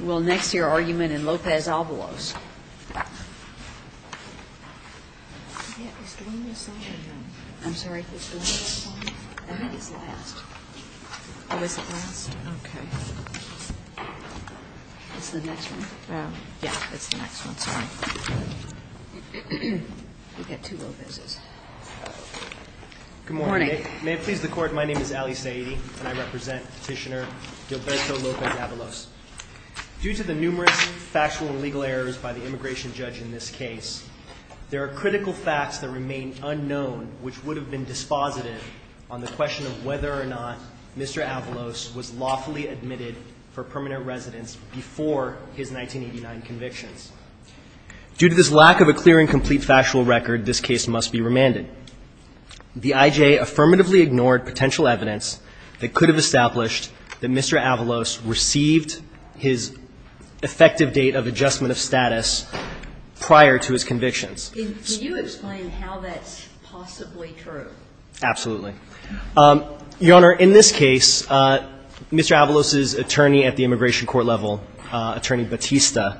Well, next, your argument in López-Avalos. I'm sorry, it's the last one? I think it's the last. Oh, it's the last? Okay. It's the next one? Yeah, it's the next one. Sorry. We've got two Lópezes. Good morning. May it please the Court, my name is Ali Saeedi, and I represent Petitioner Gilberto López-Avalos. Due to the numerous factual and legal errors by the immigration judge in this case, there are critical facts that remain unknown which would have been dispositive on the question of whether or not Mr. Avalos was lawfully admitted for permanent residence before his 1989 convictions. Due to this lack of a clear and complete factual record, this case must be remanded. The I.J. affirmatively ignored potential evidence that could have established that Mr. Avalos received his effective date of adjustment of status prior to his convictions. Can you explain how that's possibly true? Absolutely. Your Honor, in this case, Mr. Avalos's attorney at the immigration court level, Attorney Batista,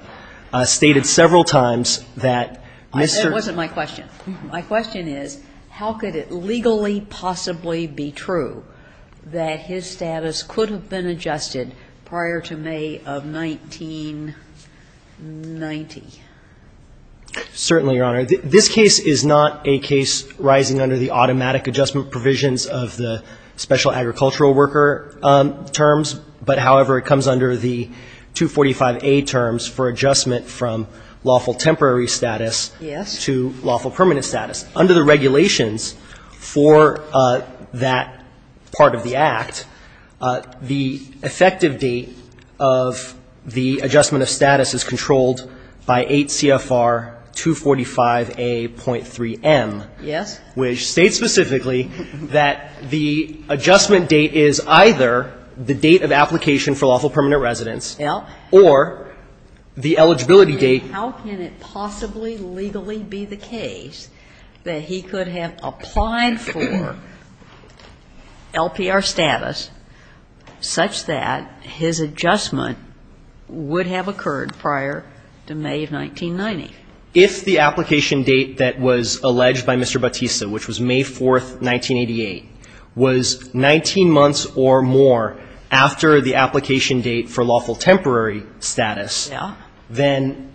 stated several times that Mr. That wasn't my question. My question is, how could it legally possibly be true that his status could have been adjusted prior to May of 1990? Certainly, Your Honor. This case is not a case rising under the automatic adjustment provisions of the special agricultural worker terms, but, however, it comes under the 245A terms for adjustment from lawful temporary status. Yes. To lawful permanent status. Under the regulations for that part of the Act, the effective date of the adjustment of status is controlled by 8 CFR 245A.3M. Yes. Which states specifically that the adjustment date is either the date of application for lawful permanent residence or the eligibility date. How can it possibly legally be the case that he could have applied for LPR status such that his adjustment would have occurred prior to May of 1990? If the application date that was alleged by Mr. Batista, which was May 4th, 1988, was 19 months or more after the application date for lawful temporary status, then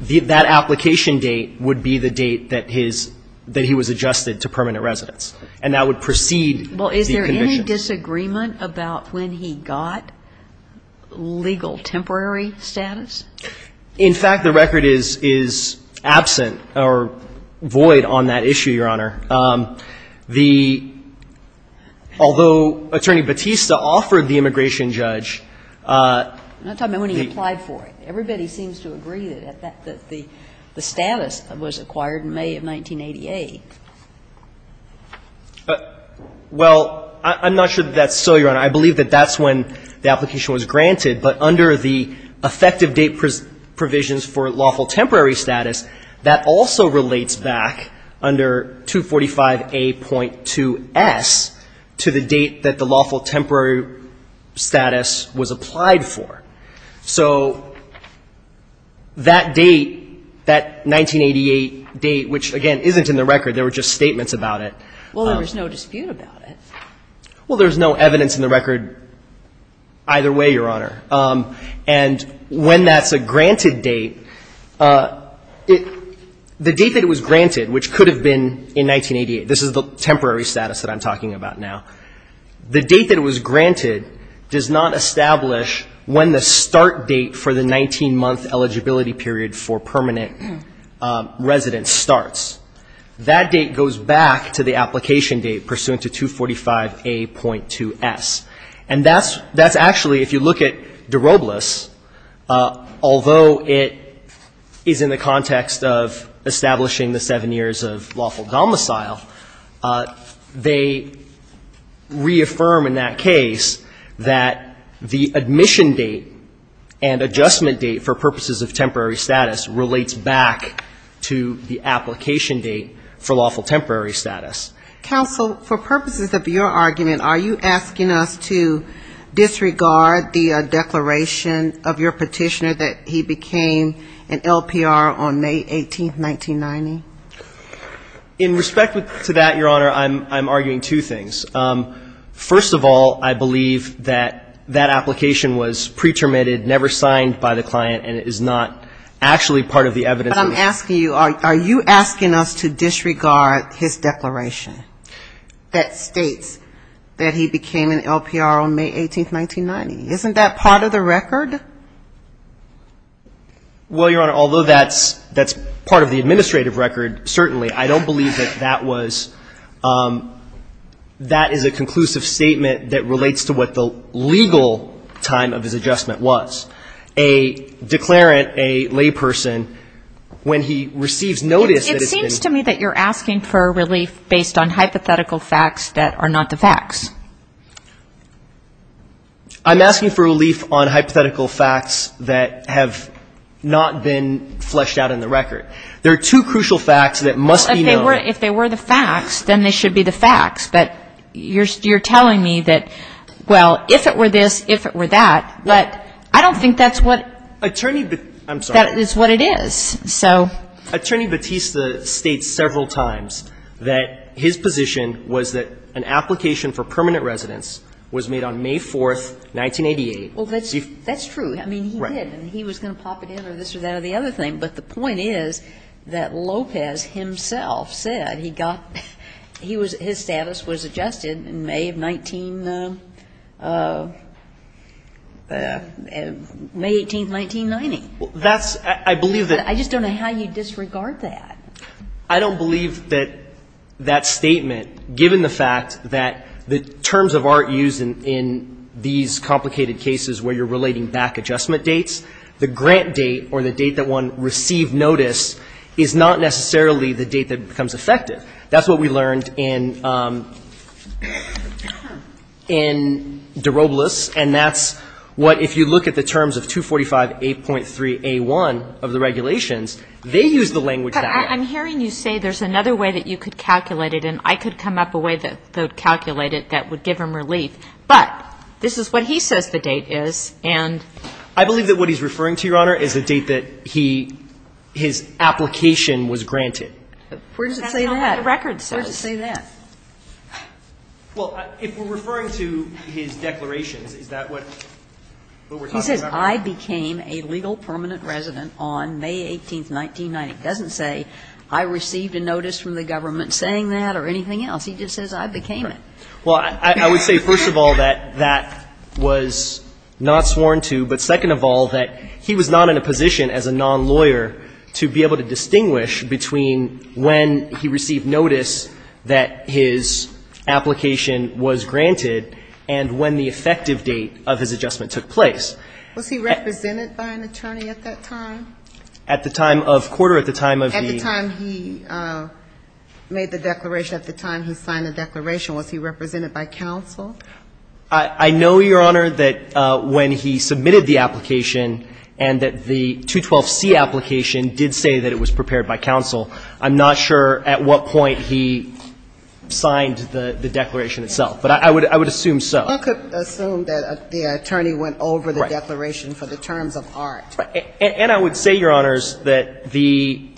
that application date would be the date that his – that he was adjusted to permanent residence, and that would precede the conviction. Well, is there any disagreement about when he got legal temporary status? In fact, the record is absent or void on that issue, Your Honor. The – although Attorney Batista offered the immigration judge the – I'm not talking about when he applied for it. Everybody seems to agree that the status was acquired in May of 1988. Well, I'm not sure that that's so, Your Honor. I believe that that's when the application was granted, but under the effective date provisions for lawful temporary status, that also relates back under 245A.2S to the date that the lawful temporary status was applied for. So that date, that 1988 date, which, again, isn't in the record. There were just statements about it. Well, then there's no dispute about it. Well, there's no evidence in the record either way, Your Honor. And when that's a granted date, it – the date that it was granted, which could have been in 1988. This is the temporary status that I'm talking about now. The date that it was granted does not establish when the start date for the 19-month eligibility period for permanent residence starts. That date goes back to the application date pursuant to 245A.2S. And that's – that's actually, if you look at DeRobles, although it is in the context of establishing the seven years of lawful domicile, they reaffirm in that case that the admission date and adjustment date for purposes of temporary status relates back to the application date for lawful temporary status. Counsel, for purposes of your argument, are you asking us to disregard the declaration of your petitioner that he became an LPR on May 18th, 1990? In respect to that, Your Honor, I'm arguing two things. First of all, I believe that that application was pre-terminated, never signed by the client, and it is not actually part of the evidence. But I'm asking you, are you asking us to disregard his declaration that states that he became an LPR on May 18th, 1990? Isn't that part of the record? Well, Your Honor, although that's part of the administrative record, certainly, I don't believe that that was – that is a conclusive statement that relates to what the legal time of his adjustment was. A declarant, a layperson, when he receives notice that it's been – I'm asking for relief on hypothetical facts that have not been fleshed out in the record. There are two crucial facts that must be known. Well, if they were the facts, then they should be the facts. But you're telling me that, well, if it were this, if it were that. But I don't think that's what – Attorney – I'm sorry. That is what it is. So – Attorney Batista states several times that his position was that an application for permanent residence was made on May 4th, 1988. Well, that's true. I mean, he did. And he was going to pop it in or this or that or the other thing. But the point is that Lopez himself said he got – he was – his status was adjusted in May of 19 – May 18th, 1990. That's – I believe that – I just don't know how you disregard that. I don't believe that that statement, given the fact that the terms of art used in these complicated cases where you're relating back adjustment dates, the grant date or the date that one received notice is not necessarily the date that becomes effective. That's what we learned in – in de Robles. And that's what – if you look at the terms of 245.8.3a1 of the regulations, they use the language that way. But I'm hearing you say there's another way that you could calculate it, and I could come up with a way to calculate it that would give him relief. But this is what he says the date is, and – I believe that what he's referring to, Your Honor, is the date that he – his application Where does it say that? That's not what the record says. Where does it say that? Well, if we're referring to his declarations, is that what we're talking about? He says, I became a legal permanent resident on May 18th, 1990. It doesn't say I received a notice from the government saying that or anything else. He just says I became it. Well, I would say, first of all, that that was not sworn to. But second of all, that he was not in a position as a nonlawyer to be able to distinguish between when he received notice that his application was granted and when the effective date of his adjustment took place. Was he represented by an attorney at that time? At the time of quarter, at the time of the – At the time he made the declaration, at the time he signed the declaration, was he represented by counsel? I know, Your Honor, that when he submitted the application and that the 212C application did say that it was prepared by counsel. I'm not sure at what point he signed the declaration itself. But I would assume so. I could assume that the attorney went over the declaration for the terms of art. And I would say, Your Honors, that the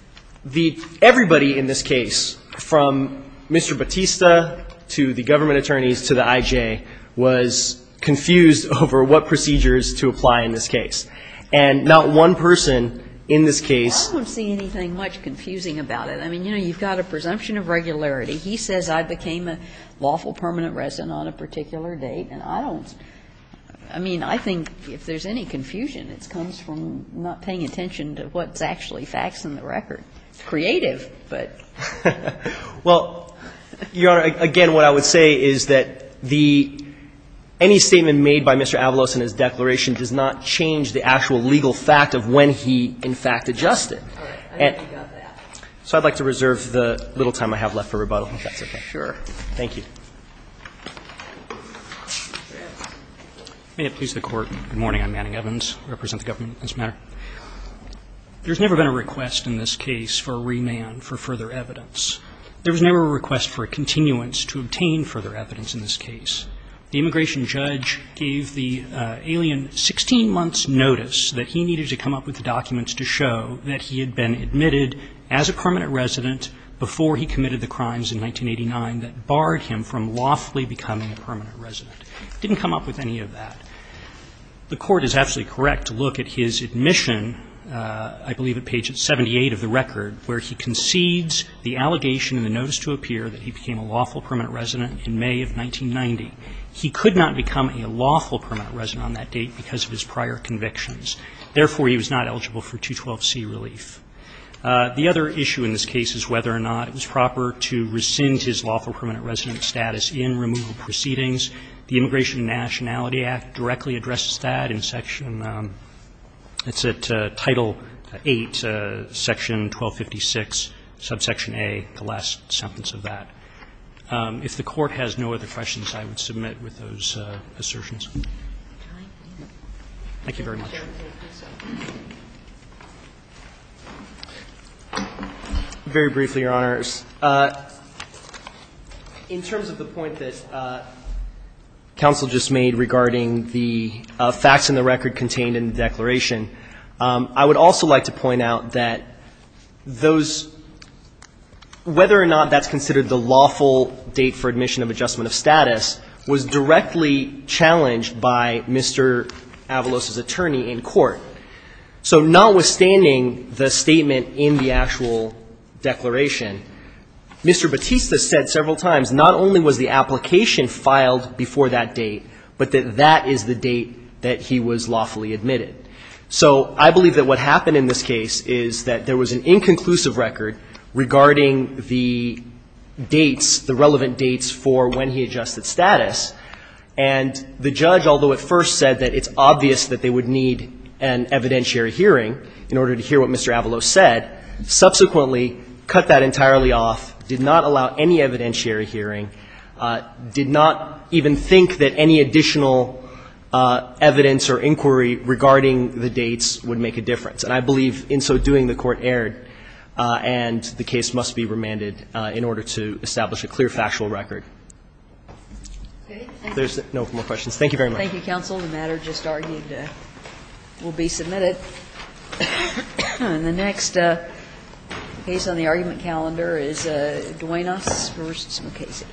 – everybody in this case, from Mr. Batista to the government attorneys to the I.J., was confused over what procedures to apply in this case. And not one person in this case – I don't see anything much confusing about it. I mean, you know, you've got a presumption of regularity. He says I became a lawful permanent resident on a particular date. And I don't – I mean, I think if there's any confusion, it comes from not paying attention to what's actually facts in the record. It's creative, but – Well, Your Honor, again, what I would say is that the – any statement made by Mr. Avalos in his declaration does not change the actual legal fact of when he, in fact, adjusted. So I'd like to reserve the little time I have left for rebuttal. If that's okay. Sure. Thank you. May it please the Court. Good morning. I'm Manning Evans. I represent the government in this matter. There's never been a request in this case for remand for further evidence. There was never a request for a continuance to obtain further evidence in this case. The immigration judge gave the alien 16 months' notice that he needed to come up with documents to show that he had been admitted as a permanent resident before he committed the crimes in 1989 that barred him from lawfully becoming a permanent resident. He didn't come up with any of that. The Court is absolutely correct to look at his admission, I believe at page 78 of the record, where he concedes the allegation in the notice to appear that he became a lawful permanent resident in May of 1990. He could not become a lawful permanent resident on that date because of his prior convictions. Therefore, he was not eligible for 212C relief. The other issue in this case is whether or not it was proper to rescind his lawful permanent resident status in removal proceedings. The Immigration and Nationality Act directly addresses that in section of Title 8, section 1256, subsection A, the last sentence of that. If the Court has no other questions, I would submit with those assertions. Thank you very much. Very briefly, Your Honors. In terms of the point that counsel just made regarding the facts in the record contained in the declaration, I would also like to point out that those – whether or not that's considered the lawful date for admission of adjustment of status was directly challenged by Mr. Avalos's attorney in court. So notwithstanding the statement in the actual declaration, Mr. Batista said several times not only was the application filed before that date, but that that is the date that he was lawfully admitted. So I believe that what happened in this case is that there was an inconclusive record regarding the dates, the relevant dates for when he adjusted status, and the judge, although at first said that it's obvious that they would need an evidentiary hearing in order to hear what Mr. Avalos said, subsequently cut that entirely off, did not allow any evidentiary hearing, did not even think that any additional evidence or inquiry regarding the dates would make a difference. And I believe in so doing, the Court erred, and the case must be remanded in order to establish a clear factual record. If there's no more questions, thank you very much. Thank you, counsel. The matter just argued will be submitted. And the next case on the argument calendar is Duenas v. Mukasey. Thank you.